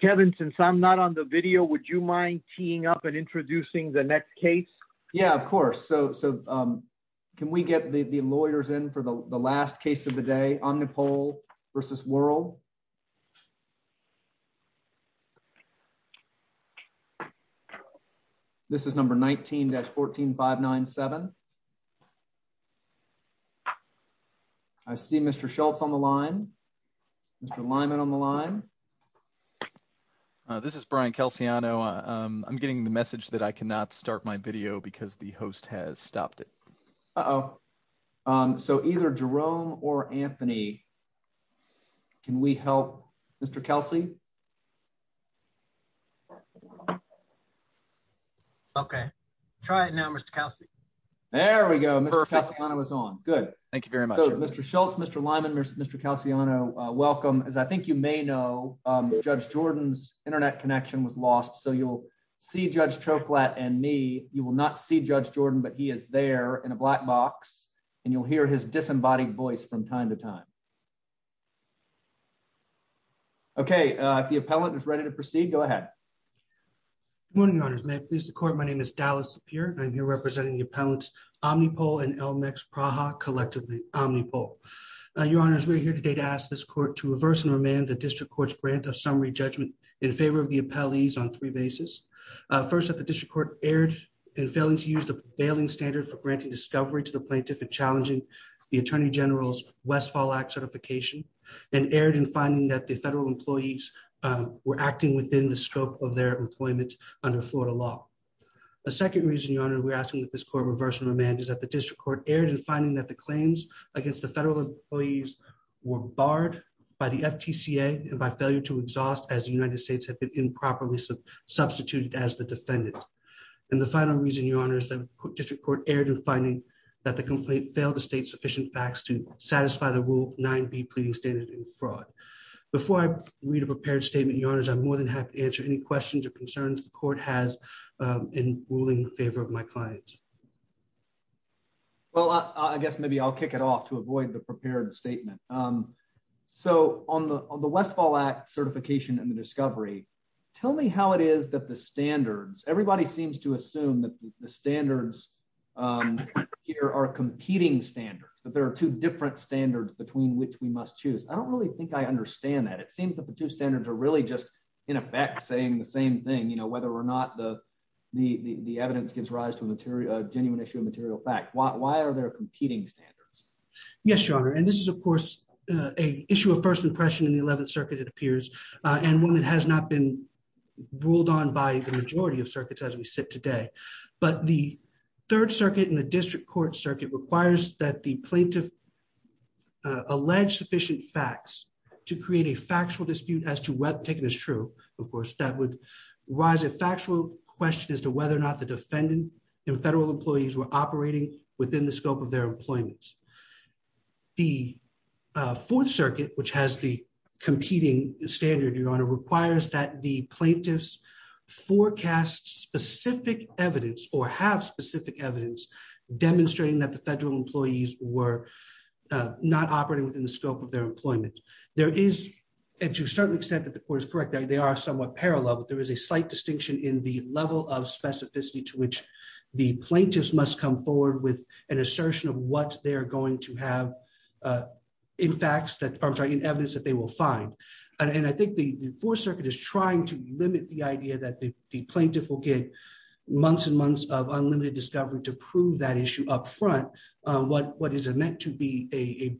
Kevin, since I'm not on the video, would you mind teeing up and introducing the next case? Yeah, of course. So can we get the lawyers in for the last case of the day? Omnipol v. Worrell This is number 19-14597 I see Mr. Schultz on the line. Mr. Lyman on the line. This is Brian Calciano. I'm getting the message that I cannot start my video because the host has stopped it. Uh-oh. So either Jerome or Anthony, can we help Mr. Kelsey? Okay. Try it now, Mr. Kelsey. There we go. Mr. Calciano is on. Good. Thank you very much. Mr. Schultz, Mr. Lyman, Mr. Calciano, welcome. As I think you may know, Judge Jordan's internet connection was lost, so you'll see Judge Choklat and me. You will not see Judge Jordan, but he is there in a black box, and you'll hear his disembodied voice from time to time. Okay. If the appellant is ready to proceed, go ahead. Good morning, Your Honors. May it please the Court, my name is Dallas Sapir, and I'm here representing the appellants Omnipol and Elmex Praha, collectively Omnipol. Your Honors, we are here today to ask this Court to reverse and remand the District Court's grant of summary judgment in favor of the appellees on three bases. First, that the District Court erred in failing to use the bailing standard for granting discovery to the plaintiff and challenging the Attorney General's Westfall Act certification, and erred in finding that the federal employees were acting within the scope of their employment under Florida law. A second reason, Your Honor, we're asking that this Court reverse and remand is that the District Court erred in finding that the claims against the federal employees were barred by the FTCA and by failure to exhaust as the United States had been improperly substituted as the defendant. And the final reason, Your Honors, the District Court erred in finding that the complaint failed to state sufficient facts to satisfy the Rule 9b pleading standard in fraud. Before I read a prepared statement, Your Honors, I'm more than happy to answer any questions or concerns the Court has in ruling in favor of my client. Well, I guess maybe I'll kick it off to avoid the prepared statement. So on the Westfall Act certification and the discovery, tell me how it is that the standards, everybody seems to assume that the standards here are competing standards, that there are two different standards between which we must choose. I don't really think I understand that. It seems that the two standards are really just, in effect, saying the same thing, you know, whether or not the evidence gives rise to a genuine issue of material fact. Why are there competing standards? Yes, Your Honor, and this is, of course, a issue of first impression in the 11th Circuit, it appears, and one that has not been ruled on by the majority of circuits as we sit today. But the Third Circuit and the District Court Circuit requires that the plaintiff allege sufficient facts to create a factual dispute as to whether the picking is true. Of course, that would rise a factual question as to whether or not the defendant and federal employees were operating within the scope of their employment. The Fourth Circuit, which has the competing standard, Your Honor, requires that the plaintiffs forecast specific evidence or have specific evidence demonstrating that the federal employees were not operating within the scope of their employment. There is, and to a certain extent that the Court is correct, they are somewhat parallel, but there is a slight distinction in the level of specificity to which the plaintiffs must come forward with an assertion of what they're going to have in facts that, I'm sorry, in evidence that they will find. And I think the Fourth Circuit is trying to limit the idea that the plaintiff will get months and months of unlimited discovery to prove that issue up front, what is meant to be a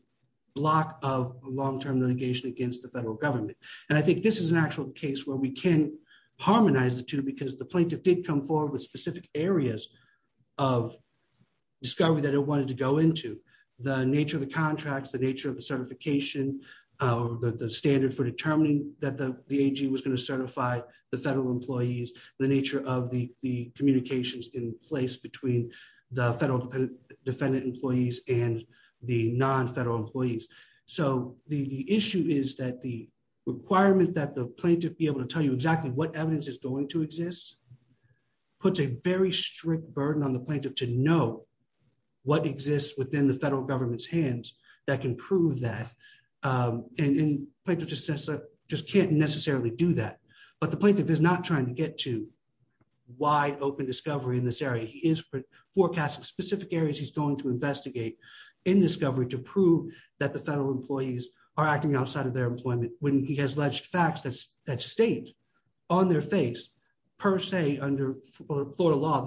block of long-term litigation against the federal government. And I think this is an actual case where we can harmonize the two because the plaintiff did come forward with specific areas of discovery that it wanted to go into. The nature of the contracts, the nature of the certification, the standard for determining that the AG was going to certify the federal employees, the nature of the communications in place between the federal defendant employees and the non-federal employees. So the issue is that the requirement that the plaintiff be able to tell you exactly what evidence is going to exist puts a very strict burden on the plaintiff to know what exists within the federal government's hands that can prove that. And the plaintiff just can't necessarily do that. But the plaintiff is not trying to get to wide open discovery in this area. He is forecasting specific areas he's going to investigate in discovery to prove that the federal employees are acting outside of their employment when he has alleged facts that state on their face, per se, under Florida law,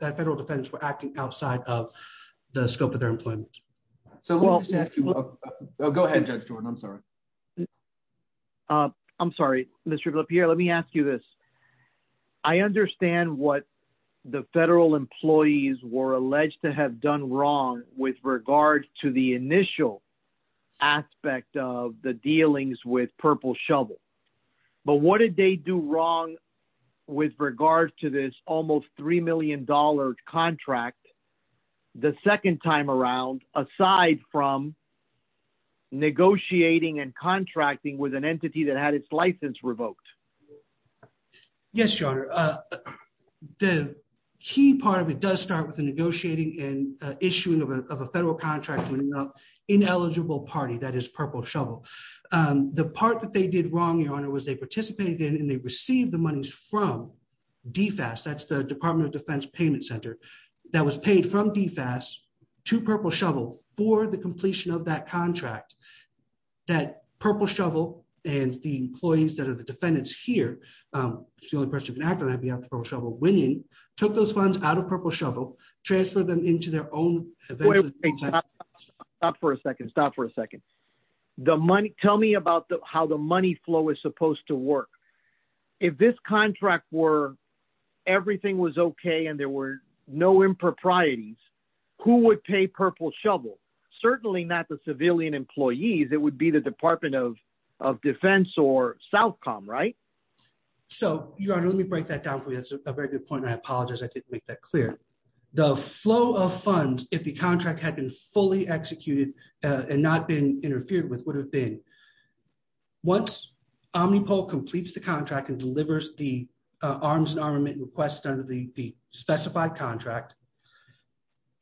that federal defendants were acting outside of the scope of their employment. Go ahead, Judge Jordan. I'm sorry. I'm sorry, Mr. Velapeer. Let me ask you this. I understand what the federal employees were alleged to have done wrong with regard to the initial aspect of the dealings with Purple Shovel. But what did they do wrong with regards to this almost $3 million contract the second time around, aside from negotiating and contracting with an entity that had its license revoked? Yes, Your Honor. The key part of it does start with the negotiating and issuing of a federal contract to an ineligible party, that is Purple Shovel. The part that they did wrong, Your Honor, was they participated in and they received the monies from DFAS, that's the Department of Defense Payment Center, that was paid from DFAS to Purple Shovel for the completion of that contract. That Purple Shovel and the employees that are the defendants here, it's the only person who can act on behalf of Purple Shovel, winning, took those funds out of Purple Shovel, transferred them into their own... Stop for a second. Stop for a second. Tell me about how the money flow is supposed to work. If this contract were everything was okay and there were no improprieties, who would pay Purple Shovel? Certainly not the civilian employees. It would be the Department of Defense or SOUTHCOM, right? So, Your Honor, let me break that down for you. That's a very good point and I apologize I didn't make that clear. The flow of funds, if the contract had been fully executed and not been interfered with, would have been, once Omnipol completes the contract and delivers the arms and armament request under the specified contract,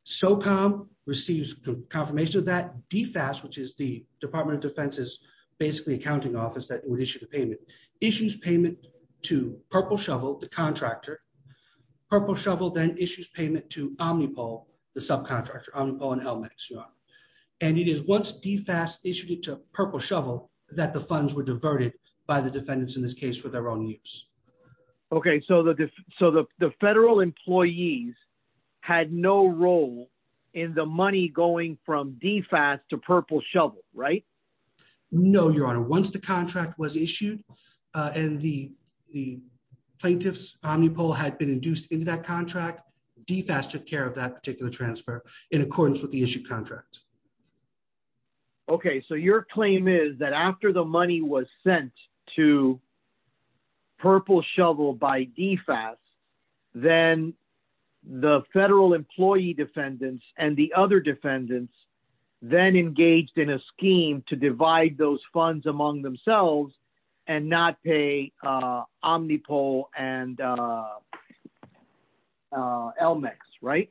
SOUTHCOM receives confirmation of that, DFAS, which is the Department of Defense's basically accounting office that would issue the payment, issues payment to Purple Shovel, the contractor. Purple Shovel then issues payment to Omnipol, the subcontractor, Omnipol and LMAX, Your Honor. And it is once DFAS issued it to Purple Shovel that the funds were diverted by the defendants in this case for their own use. Okay, so the federal employees had no role in the money going from DFAS to Purple Shovel, right? No, Your Honor. Once the contract was issued and the plaintiff's Omnipol had been induced into that contract, DFAS took care of that particular transfer in accordance with the issued contract. Okay, so your claim is that after the money was sent to Purple Shovel by DFAS, then the federal employee defendants and the other defendants then engaged in a scheme to divide those funds among themselves and not pay Omnipol and LMAX, right?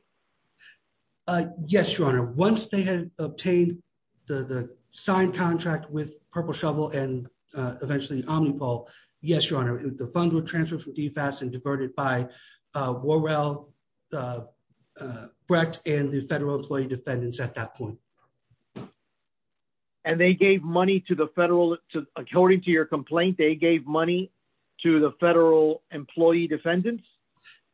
Yes, Your Honor. Once they had obtained the signed contract with Purple Shovel and eventually Omnipol, yes, Your Honor, the funds were transferred from DFAS and diverted by Worrell, Brecht and the federal employee defendants at that point. And they gave money to the federal, according to your complaint, they gave money to the federal employee defendants?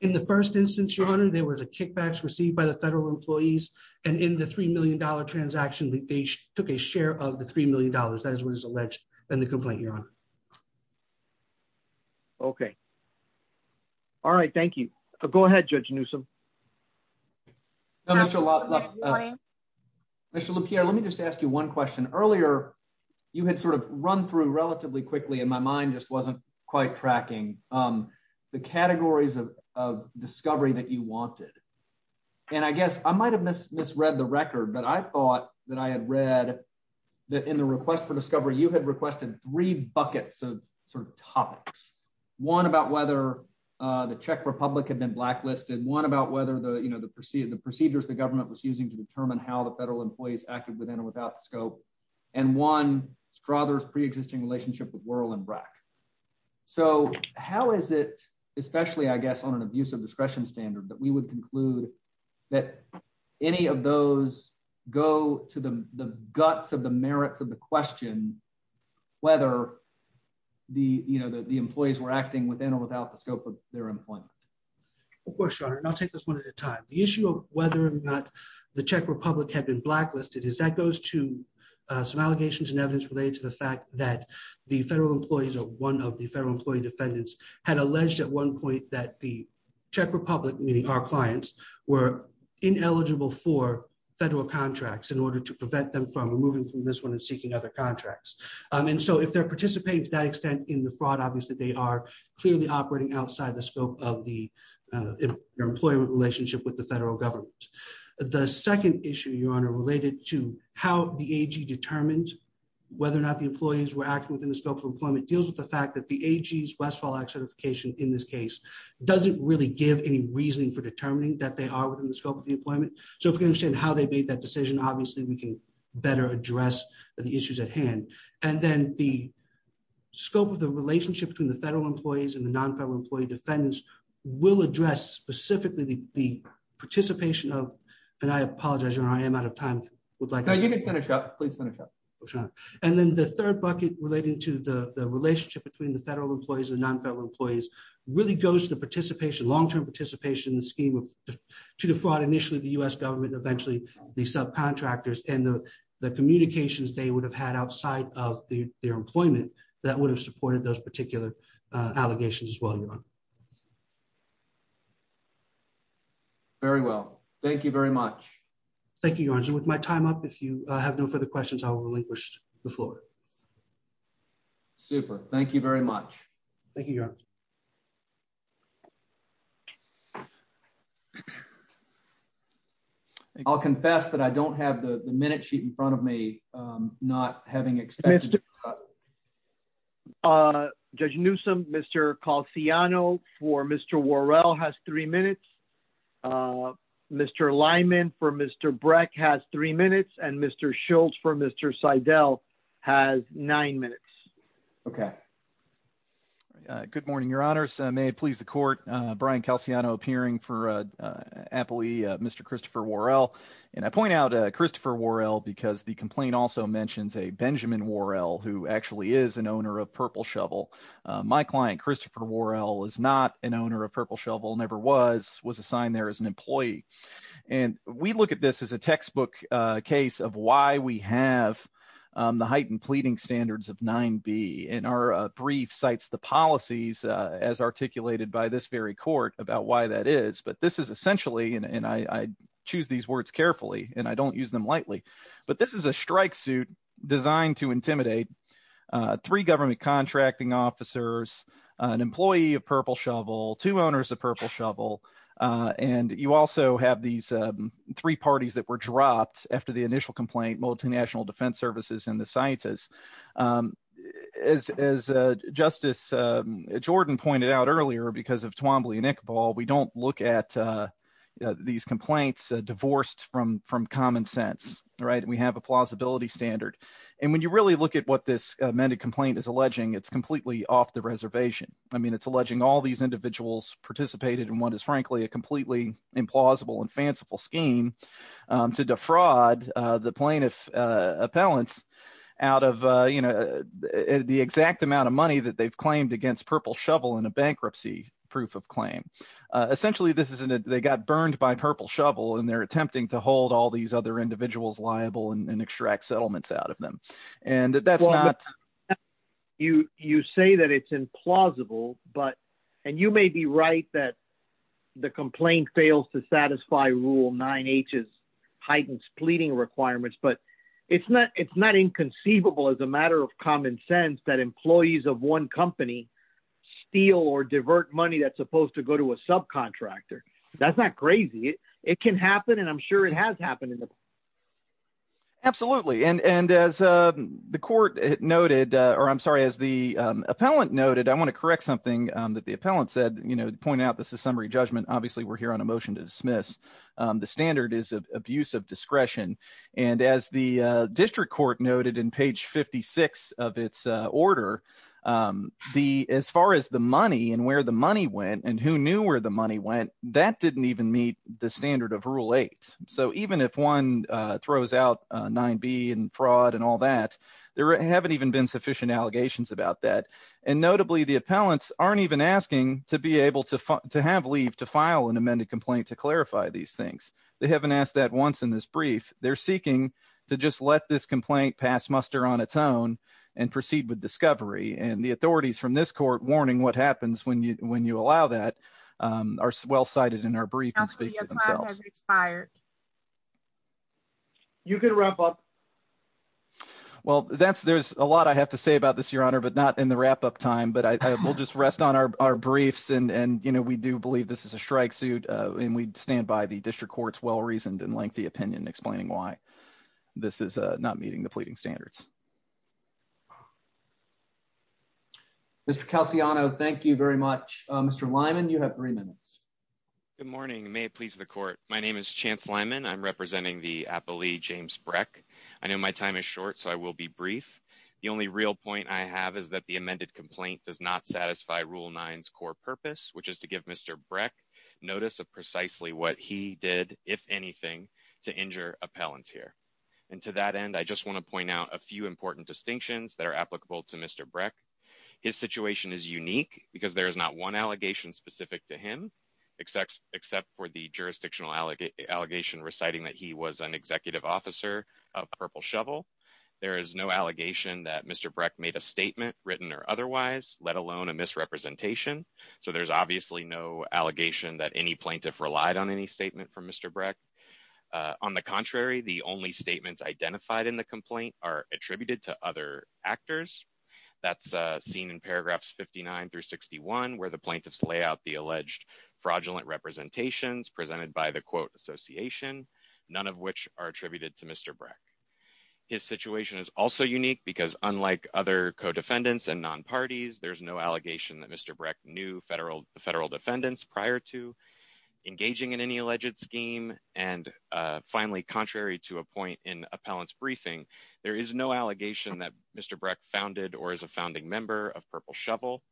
In the first instance, Your Honor, there was a kickback received by the federal employees and in the $3 million transaction, they took a share of the $3 million. That is what is alleged in the complaint, Your Honor. Okay. All right, thank you. Go ahead, Judge Newsom. Mr. Lupierre, let me just ask you one question. Earlier, you had sort of run through relatively quickly and my mind just wasn't quite tracking the categories of discovery that you wanted. And I guess I might have misread the record, but I thought that I had read that in the request for discovery, you had requested three buckets of sort of topics. One about whether the Czech Republic had been blacklisted, one about whether the procedures the government was using to determine how the federal employees acted within or without the scope, and one, Strother's pre-existing relationship with Worrell and Brecht. So, how is it, especially I guess on an abuse of discretion standard that we would conclude that any of those go to the guts of the merits of the question, whether the, you know, the employees were acting within or without the scope of their employment? Of course, Your Honor, and I'll take this one at a time. The issue of whether or not the Czech Republic had been blacklisted is that goes to some allegations and evidence related to the fact that the federal employees or one of the federal employee defendants had alleged at one point that the Czech Republic, meaning our clients, were ineligible for federal contracts in order to prevent them from removing from this one and seeking other contracts. And so, if they're participating to that extent in the fraud, obviously they are clearly operating outside the scope of the employment relationship with the federal government. The second issue, Your Honor, related to how the AG determined whether or not the employees were acting within the scope of employment deals with the fact that the AG's Westfall Act certification in this case doesn't really give any reasoning for determining that they are within the scope of the employment. So, if we understand how they made that decision, obviously we can better address the issues at hand. And then the scope of the relationship between the federal employees and the non-federal employee defendants will address specifically the participation of, and I apologize, Your Honor, I am out of time. No, you can finish up. Please finish up. And then the third bucket relating to the relationship between the federal employees and non-federal employees really goes to participation, long-term participation in the scheme to defraud initially the U.S. government and eventually the subcontractors and the communications they would have had outside of their employment that would have supported those particular allegations as well, Your Honor. Very well. Thank you very much. Thank you, Your Honor. And with my time up, if you have no further questions, I will relinquish the floor. Super. Thank you very much. Thank you, Your Honor. I'll confess that I don't have the minute sheet in front of me, not having expected it. Judge Newsom, Mr. Calciano for Mr. Worrell has three minutes. Mr. Lyman for Mr. Breck has three minutes and Mr. Schultz for Mr. Seidel has nine minutes. OK. Good morning, Your Honors. May it please the court. Brian Calciano appearing for Apple, Mr. Christopher Worrell. And I point out Christopher Worrell because the complaint also mentions a Benjamin Worrell, who actually is an owner of Purple Shovel. My client, Christopher Worrell, is not an owner of Purple Shovel, never was, was assigned there as an employee. And we look at this as a textbook case of why we have the heightened pleading standards of 9B. And our brief cites the policies as articulated by this very court about why that is. But this is essentially and I choose these words carefully and I don't use them lightly. But this is a strike suit designed to intimidate three government contracting officers, an employee of Purple Shovel, two owners of Purple Shovel. And you also have these three parties that were dropped after the initial complaint, multinational defense services and the scientists. As Justice Jordan pointed out earlier, because of Twombly and Iqbal, we don't look at these complaints divorced from from common sense. Right. We have a plausibility standard. And when you really look at what this amended complaint is alleging, it's completely off the reservation. I mean, it's alleging all these individuals participated in what is frankly a completely implausible and fanciful scheme to defraud the plaintiff appellants out of, you know, the exact amount of money that they've claimed against Purple Shovel in a bankruptcy proof of claim. Essentially, this is they got burned by Purple Shovel and they're attempting to hold all these other individuals liable and extract settlements out of them. You say that it's implausible, but and you may be right that the complaint fails to satisfy Rule 9H's heightened splitting requirements. But it's not it's not inconceivable as a matter of common sense that employees of one company steal or divert money that's supposed to go to a subcontractor. That's not crazy. It can happen. And I'm sure it has happened in the past. Absolutely. And as the court noted or I'm sorry, as the appellant noted, I want to correct something that the appellant said, you know, point out this is summary judgment. Obviously, we're here on a motion to dismiss. The standard is of abuse of discretion. And as the district court noted in page 56 of its order, the as far as the money and where the money went and who knew where the money went, that didn't even meet the standard of Rule 8. So even if one throws out 9B and fraud and all that, there haven't even been sufficient allegations about that. And notably, the appellants aren't even asking to be able to to have leave to file an amended complaint to clarify these things. They haven't asked that once in this brief. They're seeking to just let this complaint pass muster on its own and proceed with discovery. And the authorities from this court warning what happens when you when you allow that are well cited in our brief. As expired. You can wrap up. Well, that's there's a lot I have to say about this, Your Honor, but not in the wrap up time, but I will just rest on our briefs. And, you know, we do believe this is a strike suit. And we stand by the district court's well reasoned and lengthy opinion explaining why this is not meeting the pleading standards. Mr. Calciano, thank you very much. Mr. Lyman, you have three minutes. Good morning. May it please the court. My name is Chance Lyman. I'm representing the appellee, James Breck. I know my time is short, so I will be brief. The only real point I have is that the amended complaint does not satisfy rule nines core purpose, which is to give Mr. Breck notice of precisely what he did, if anything, to injure appellants here. And to that end, I just want to point out a few important distinctions that are applicable to Mr. Breck. His situation is unique because there is not one allegation specific to him, except for the jurisdictional allegation reciting that he was an executive officer of Purple Shovel. There is no allegation that Mr. Breck made a statement written or otherwise, let alone a misrepresentation. So there's obviously no allegation that any plaintiff relied on any statement from Mr. Breck. On the contrary, the only statements identified in the complaint are attributed to other actors. That's seen in paragraphs 59 through 61, where the plaintiffs lay out the alleged fraudulent representations presented by the quote association, none of which are attributed to Mr. Breck. His situation is also unique because unlike other co-defendants and non parties, there's no allegation that Mr. Breck knew federal federal defendants prior to engaging in any alleged scheme. And finally, contrary to a point in appellants briefing, there is no allegation that Mr. Breck founded or is a founding member of Purple Shovel.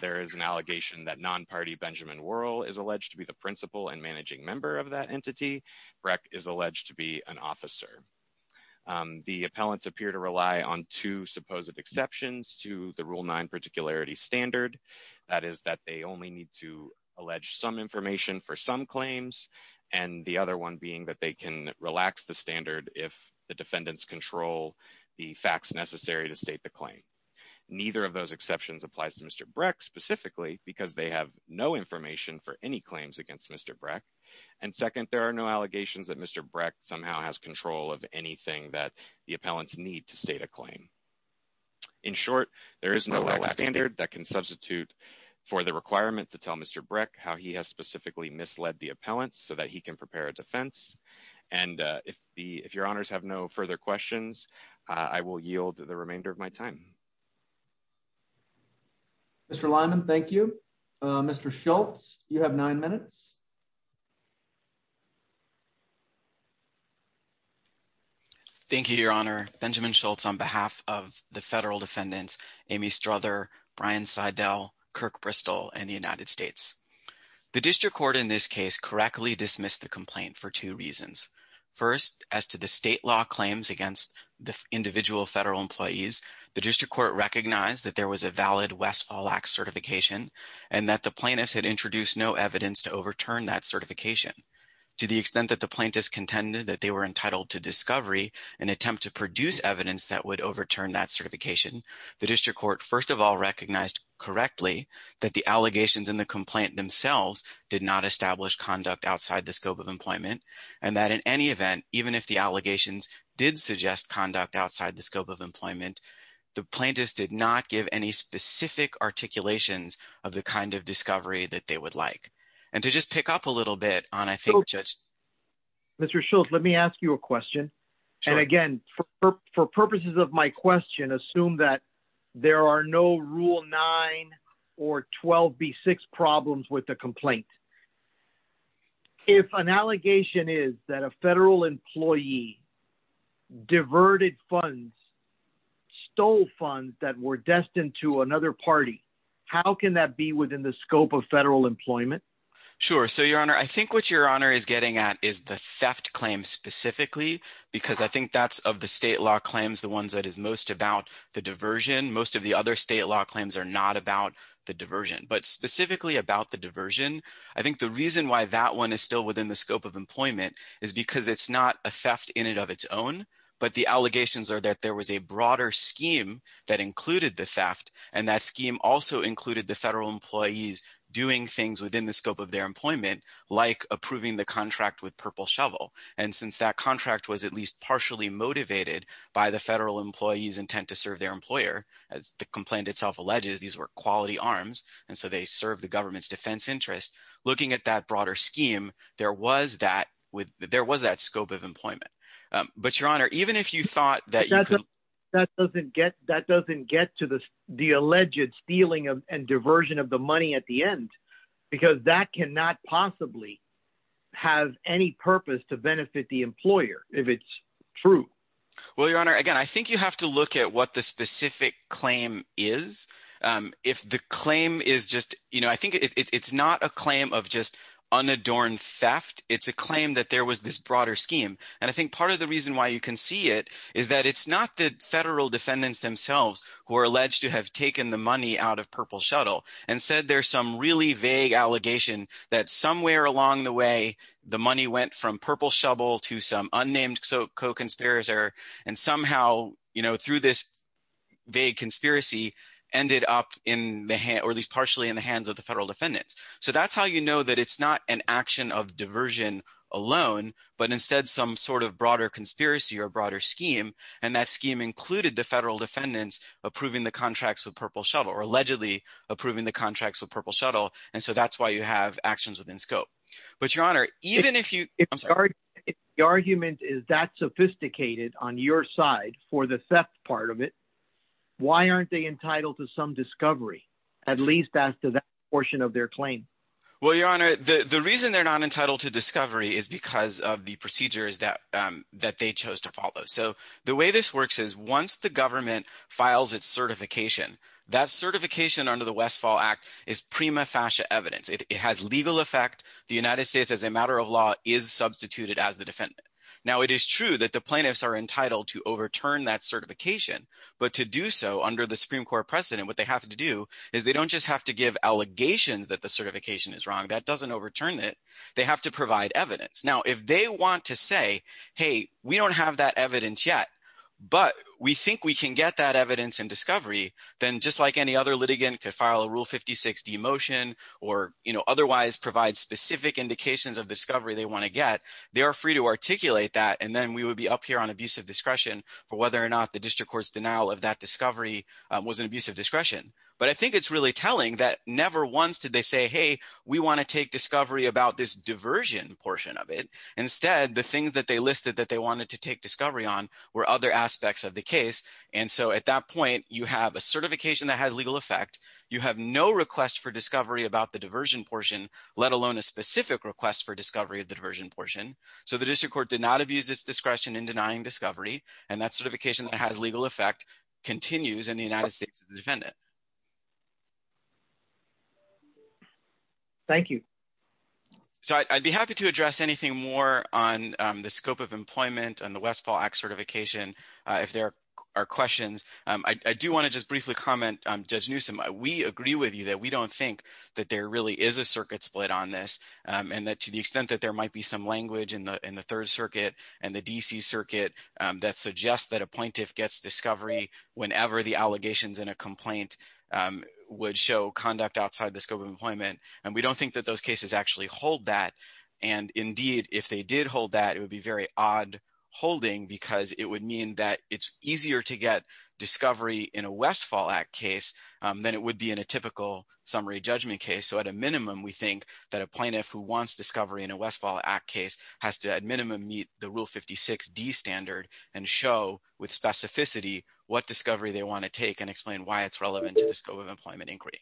There is an allegation that non party Benjamin Worrell is alleged to be the principal and managing member of that entity. Breck is alleged to be an officer. The appellants appear to rely on two supposed exceptions to the rule nine particularity standard. That is that they only need to allege some information for some claims. And the other one being that they can relax the standard if the defendants control the facts necessary to state the claim. Neither of those exceptions applies to Mr. Breck specifically because they have no information for any claims against Mr. Breck. And second, there are no allegations that Mr. Breck somehow has control of anything that the appellants need to state a claim. In short, there is no standard that can substitute for the requirement to tell Mr. Breck how he has specifically misled the appellants so that he can prepare a defense. And if the if your honors have no further questions, I will yield the remainder of my time. Mr. Lyman, thank you. Mr. Schultz, you have nine minutes. Thank you, Your Honor. Benjamin Schultz on behalf of the federal defendants, Amy Struther, Brian Seidel, Kirk Bristol and the United States. The district court in this case correctly dismissed the complaint for two reasons. First, as to the state law claims against the individual federal employees, the district court recognized that there was a valid Westfall Act certification and that the plaintiffs had introduced no evidence to overturn that certification. To the extent that the plaintiffs contended that they were entitled to discovery and attempt to produce evidence that would overturn that certification. The district court, first of all, recognized correctly that the allegations in the complaint themselves did not establish conduct outside the scope of employment. And that in any event, even if the allegations did suggest conduct outside the scope of employment, the plaintiffs did not give any specific articulations of the kind of discovery that they would like. And to just pick up a little bit on, I think, Judge. Mr. Schultz, let me ask you a question. And again, for purposes of my question, assume that there are no Rule 9 or 12B6 problems with the complaint. If an allegation is that a federal employee diverted funds, stole funds that were destined to another party, how can that be within the scope of federal employment? Sure. So, Your Honor, I think what Your Honor is getting at is the theft claim specifically because I think that's of the state law claims, the ones that is most about the diversion. Most of the other state law claims are not about the diversion, but specifically about the diversion. I think the reason why that one is still within the scope of employment is because it's not a theft in and of its own. But the allegations are that there was a broader scheme that included the theft, and that scheme also included the federal employees doing things within the scope of their employment, like approving the contract with Purple Shovel. And since that contract was at least partially motivated by the federal employee's intent to serve their employer, as the complaint itself alleges, these were quality arms, and so they serve the government's defense interest. Looking at that broader scheme, there was that scope of employment. But, Your Honor, even if you thought that you could… That doesn't get to the alleged stealing and diversion of the money at the end because that cannot possibly have any purpose to benefit the employer if it's true. Well, Your Honor, again, I think you have to look at what the specific claim is. If the claim is just – I think it's not a claim of just unadorned theft. It's a claim that there was this broader scheme. And I think part of the reason why you can see it is that it's not the federal defendants themselves who are alleged to have taken the money out of Purple Shuttle and said there's some really vague allegation that somewhere along the way, the money went from Purple Shovel to some unnamed co-conspirator. And somehow, through this vague conspiracy, ended up in the – or at least partially in the hands of the federal defendants. So that's how you know that it's not an action of diversion alone, but instead some sort of broader conspiracy or broader scheme. And that scheme included the federal defendants approving the contracts with Purple Shuttle or allegedly approving the contracts with Purple Shuttle. And so that's why you have actions within scope. But, Your Honor, even if you – I'm sorry. If the argument is that sophisticated on your side for the theft part of it, why aren't they entitled to some discovery at least after that portion of their claim? Well, Your Honor, the reason they're not entitled to discovery is because of the procedures that they chose to follow. So the way this works is once the government files its certification, that certification under the Westfall Act is prima facie evidence. It has legal effect. The United States, as a matter of law, is substituted as the defendant. Now, it is true that the plaintiffs are entitled to overturn that certification. But to do so under the Supreme Court precedent, what they have to do is they don't just have to give allegations that the certification is wrong. That doesn't overturn it. They have to provide evidence. Now, if they want to say, hey, we don't have that evidence yet, but we think we can get that evidence and discovery, then just like any other litigant could file a Rule 56 demotion or otherwise provide specific indications of discovery they want to get, they are free to articulate that. And then we would be up here on abusive discretion for whether or not the district court's denial of that discovery was an abuse of discretion. But I think it's really telling that never once did they say, hey, we want to take discovery about this diversion portion of it. Instead, the things that they listed that they wanted to take discovery on were other aspects of the case. And so at that point, you have a certification that has legal effect. You have no request for discovery about the diversion portion, let alone a specific request for discovery of the diversion portion. So the district court did not abuse its discretion in denying discovery, and that certification that has legal effect continues in the United States as a defendant. Thank you. So I'd be happy to address anything more on the scope of employment and the Westfall Act certification if there are questions. I do want to just briefly comment, Judge Newsom. We agree with you that we don't think that there really is a circuit split on this and that to the extent that there might be some language in the Third Circuit and the D.C. Circuit that suggests that a plaintiff gets discovery whenever the allegations in a complaint would show conduct outside the scope of employment. And we don't think that those cases actually hold that. And indeed, if they did hold that, it would be very odd holding because it would mean that it's easier to get discovery in a Westfall Act case than it would be in a typical summary judgment case. So at a minimum, we think that a plaintiff who wants discovery in a Westfall Act case has to at minimum meet the Rule 56D standard and show with specificity what discovery they want to take and explain why it's relevant to the scope of employment inquiry.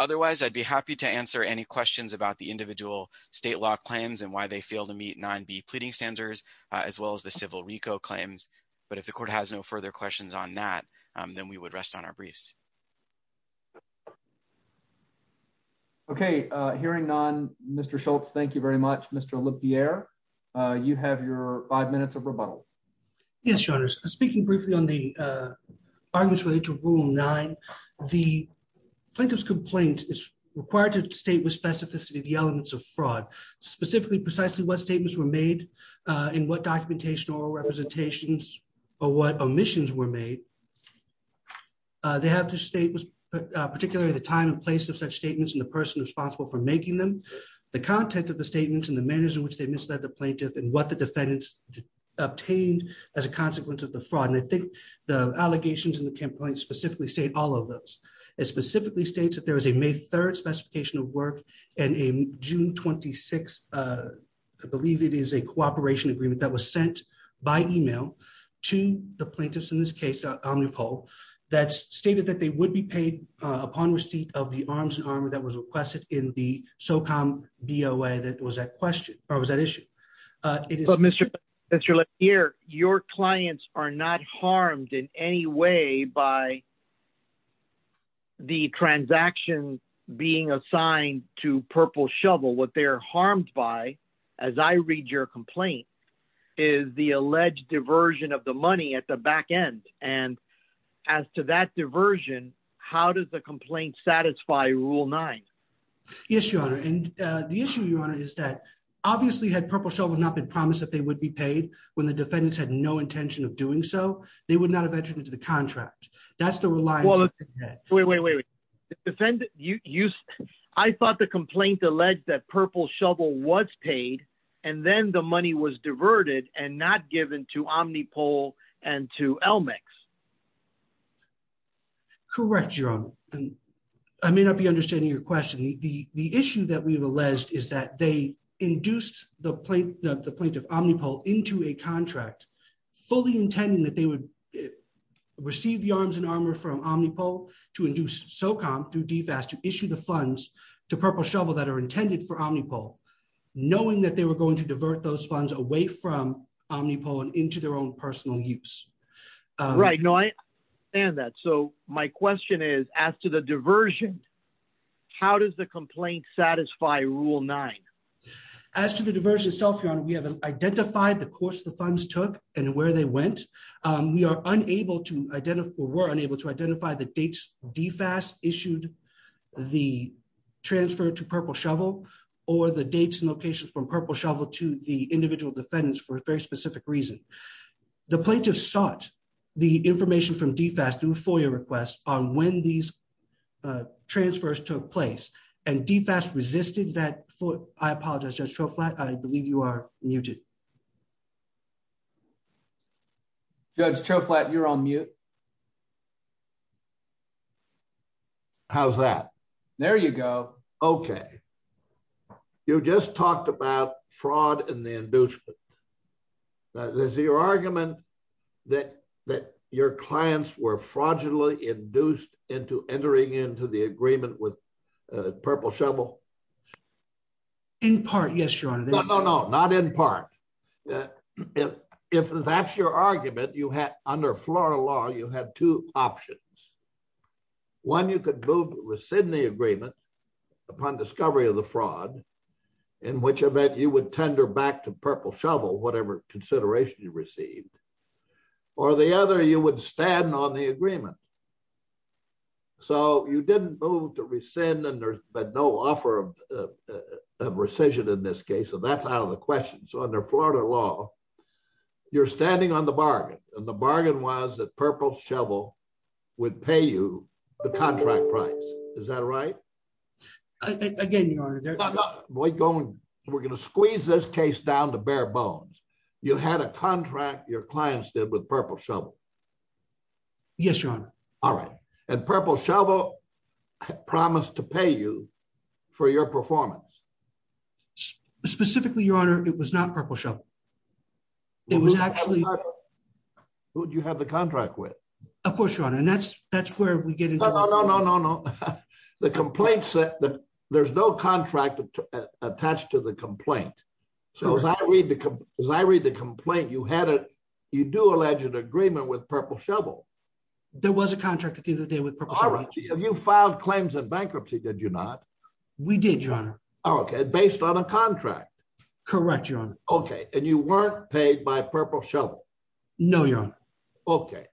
Otherwise, I'd be happy to answer any questions about the individual state law claims and why they fail to meet 9B pleading standards, as well as the civil RICO claims. But if the court has no further questions on that, then we would rest on our briefs. Okay. Hearing none, Mr. Schultz, thank you very much. Mr. Olympier, you have your five minutes of rebuttal. Yes, Your Honors. Speaking briefly on the arguments related to Rule 9, the plaintiff's complaint is required to state with specificity the elements of fraud. Specifically, precisely what statements were made and what documentation or representations or what omissions were made. They have to state particularly the time and place of such statements and the person responsible for making them, the content of the statements and the manner in which they misled the plaintiff and what the defendants obtained as a consequence of the fraud. And I think the allegations in the complaint specifically state all of those. It specifically states that there is a May 3rd specification of work and a June 26th, I believe it is a cooperation agreement that was sent by email to the plaintiffs in this case, Omnipol, that stated that they would be paid upon receipt of the arms and armor that was requested in the SOCOM BOA that was at question, or was at issue. Mr. Olympier, your clients are not harmed in any way by the transaction being assigned to Purple Shovel. What they are harmed by, as I read your complaint, is the alleged diversion of the money at the back end. And as to that diversion, how does the complaint satisfy Rule 9? Yes, Your Honor. And the issue, Your Honor, is that obviously had Purple Shovel not been promised that they would be paid when the defendants had no intention of doing so, they would not have entered into the contract. That's the reliance on the debt. Wait, wait, wait. I thought the complaint alleged that Purple Shovel was paid and then the money was diverted and not given to Omnipol and to Elmix. Correct, Your Honor. And I may not be understanding your question. The issue that we've alleged is that they induced the plaintiff, Omnipol, into a contract fully intending that they would receive the arms and armor from Omnipol to induce SOCOM through DFAS to issue the funds to Purple Shovel that are intended for Omnipol, knowing that they were going to divert those funds away from Omnipol and into their own personal use. Right. No, I understand that. So my question is, as to the diversion, how does the complaint satisfy Rule 9? As to the diversion itself, Your Honor, we have identified the course the funds took and where they went. We are unable to identify, or were unable to identify the dates DFAS issued the transfer to Purple Shovel or the dates and locations from Purple Shovel to the individual defendants for a very specific reason. The plaintiff sought the information from DFAS through FOIA requests on when these transfers took place and DFAS resisted that. I apologize, Judge Choflat, I believe you are muted. Judge Choflat, you're on mute. How's that? There you go. Okay. You just talked about fraud and the inducement. Is your argument that your clients were fraudulently induced into entering into the agreement with Purple Shovel? In part, yes, Your Honor. No, no, no, not in part. If that's your argument, under Florida law, you have two options. One, you could move to rescind the agreement upon discovery of the fraud, in which event you would tender back to Purple Shovel whatever consideration you received. Or the other, you would stand on the agreement. So you didn't move to rescind and there's been no offer of rescission in this case, so that's out of the question. So under Florida law, you're standing on the bargain, and the bargain was that Purple Shovel would pay you the contract price. Is that right? Again, Your Honor. We're going to squeeze this case down to bare bones. You had a contract your clients did with Purple Shovel. Yes, Your Honor. All right. And Purple Shovel promised to pay you for your performance. Specifically, Your Honor, it was not Purple Shovel. It was actually... Who did you have the contract with? Of course, Your Honor, and that's where we get into... No, no, no, no, no, no. There's no contract attached to the complaint. So as I read the complaint, you do allege an agreement with Purple Shovel. There was a contract at the end of the day with Purple Shovel. All right. You filed claims of bankruptcy, did you not? We did, Your Honor. Okay, based on a contract. Correct, Your Honor. Okay, and you weren't paid by Purple Shovel. No, Your Honor. Okay,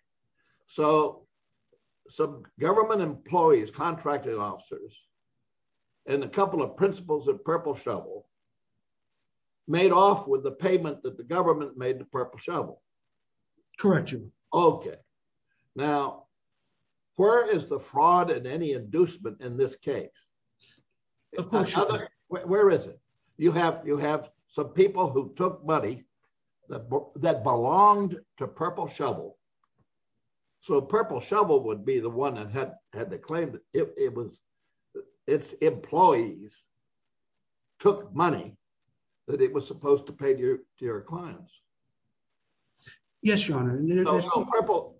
so some government employees, contracting officers, and a couple of principals of Purple Shovel made off with the payment that the government made to Purple Shovel. Correct, Your Honor. Okay. Now, where is the fraud and any inducement in this case? Of course, Your Honor. Where is it? You have some people who took money that belonged to Purple Shovel. So Purple Shovel would be the one that had the claim that its employees took money that it was supposed to pay to your clients. Yes, Your Honor.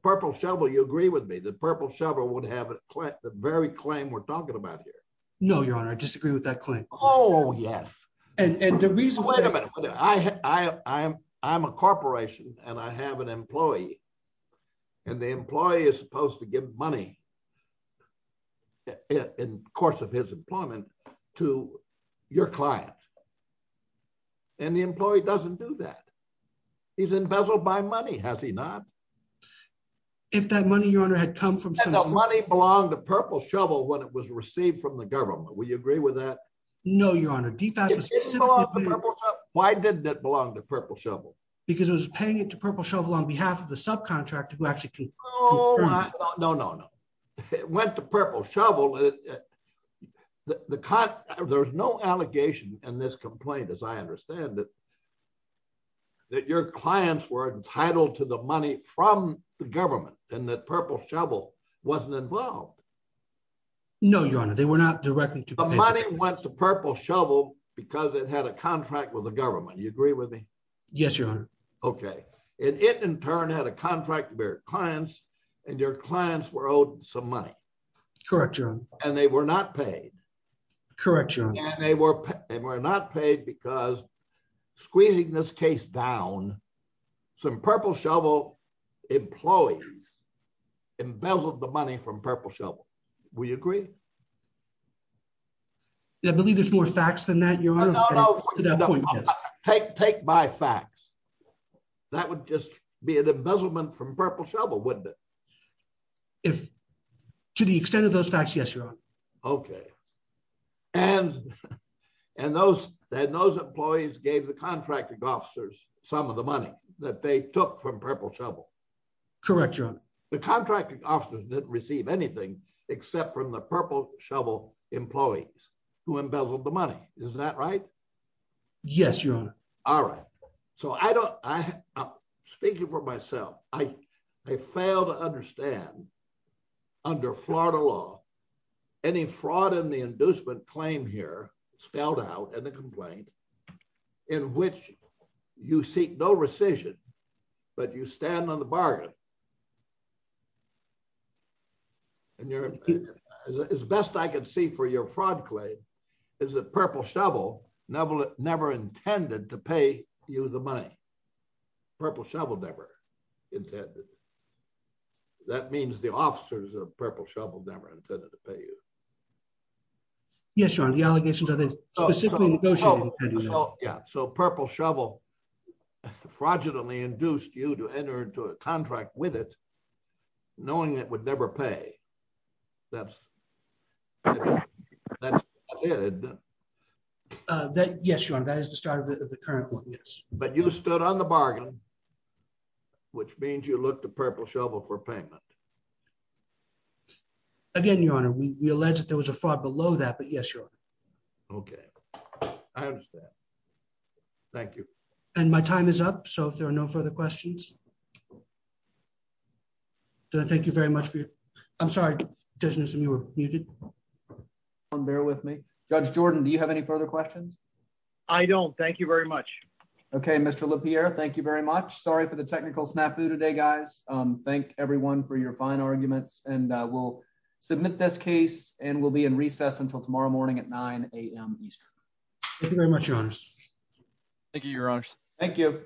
Purple Shovel, you agree with me, that Purple Shovel would have the very claim we're talking about here. No, Your Honor, I disagree with that claim. Oh, yes. Wait a minute. I'm a corporation, and I have an employee, and the employee is supposed to give money in the course of his employment to your client. And the employee doesn't do that. He's embezzled my money, has he not? If that money, Your Honor, had come from someone else. And the money belonged to Purple Shovel when it was received from the government. Will you agree with that? No, Your Honor. It didn't belong to Purple Shovel. Why didn't it belong to Purple Shovel? Because it was paying it to Purple Shovel on behalf of the subcontractor who actually confirmed it. No, no, no. It went to Purple Shovel. There's no allegation in this complaint, as I understand it, that your clients were entitled to the money from the government and that Purple Shovel wasn't involved. No, Your Honor, they were not directly to pay. The money went to Purple Shovel because it had a contract with the government. You agree with me? Yes, Your Honor. Okay. And it, in turn, had a contract with your clients, and your clients were owed some money. Correct, Your Honor. And they were not paid. Correct, Your Honor. And they were not paid because, squeezing this case down, some Purple Shovel employees embezzled the money from Purple Shovel. Will you agree? I believe there's more facts than that, Your Honor. No, no. To that point, yes. Take my facts. That would just be an embezzlement from Purple Shovel, wouldn't it? To the extent of those facts, yes, Your Honor. Okay. And those employees gave the contracting officers some of the money that they took from Purple Shovel. Correct, Your Honor. The contracting officers didn't receive anything except from the Purple Shovel employees who embezzled the money. Is that right? Yes, Your Honor. All right. So I don't, speaking for myself, I fail to understand, under Florida law, any fraud in the inducement claim here, spelled out in the complaint, in which you seek no rescission, but you stand on the bargain. As best I can see for your fraud claim is that Purple Shovel never intended to pay you the money. Purple Shovel never intended. That means the officers of Purple Shovel never intended to pay you. Yes, Your Honor. The allegations are that they specifically negotiated the money. Yeah. So Purple Shovel fraudulently induced you to enter into a contract with it, knowing it would never pay. That's it. Yes, Your Honor. That is the start of the current one, yes. But you stood on the bargain, which means you look to Purple Shovel for payment. Again, Your Honor, we allege that there was a fraud below that, but yes, Your Honor. Okay. I understand. Thank you. And my time is up so if there are no further questions. Thank you very much for your. I'm sorry, Judge Newsom, you were muted. Bear with me. Judge Jordan, do you have any further questions? I don't. Thank you very much. Okay, Mr. LaPierre, thank you very much. Sorry for the technical snafu today, guys. Thank everyone for your fine arguments and we'll submit this case and we'll be in recess until tomorrow morning at 9am Eastern. Thank you very much, Your Honor. Thank you, Your Honor. Thank you.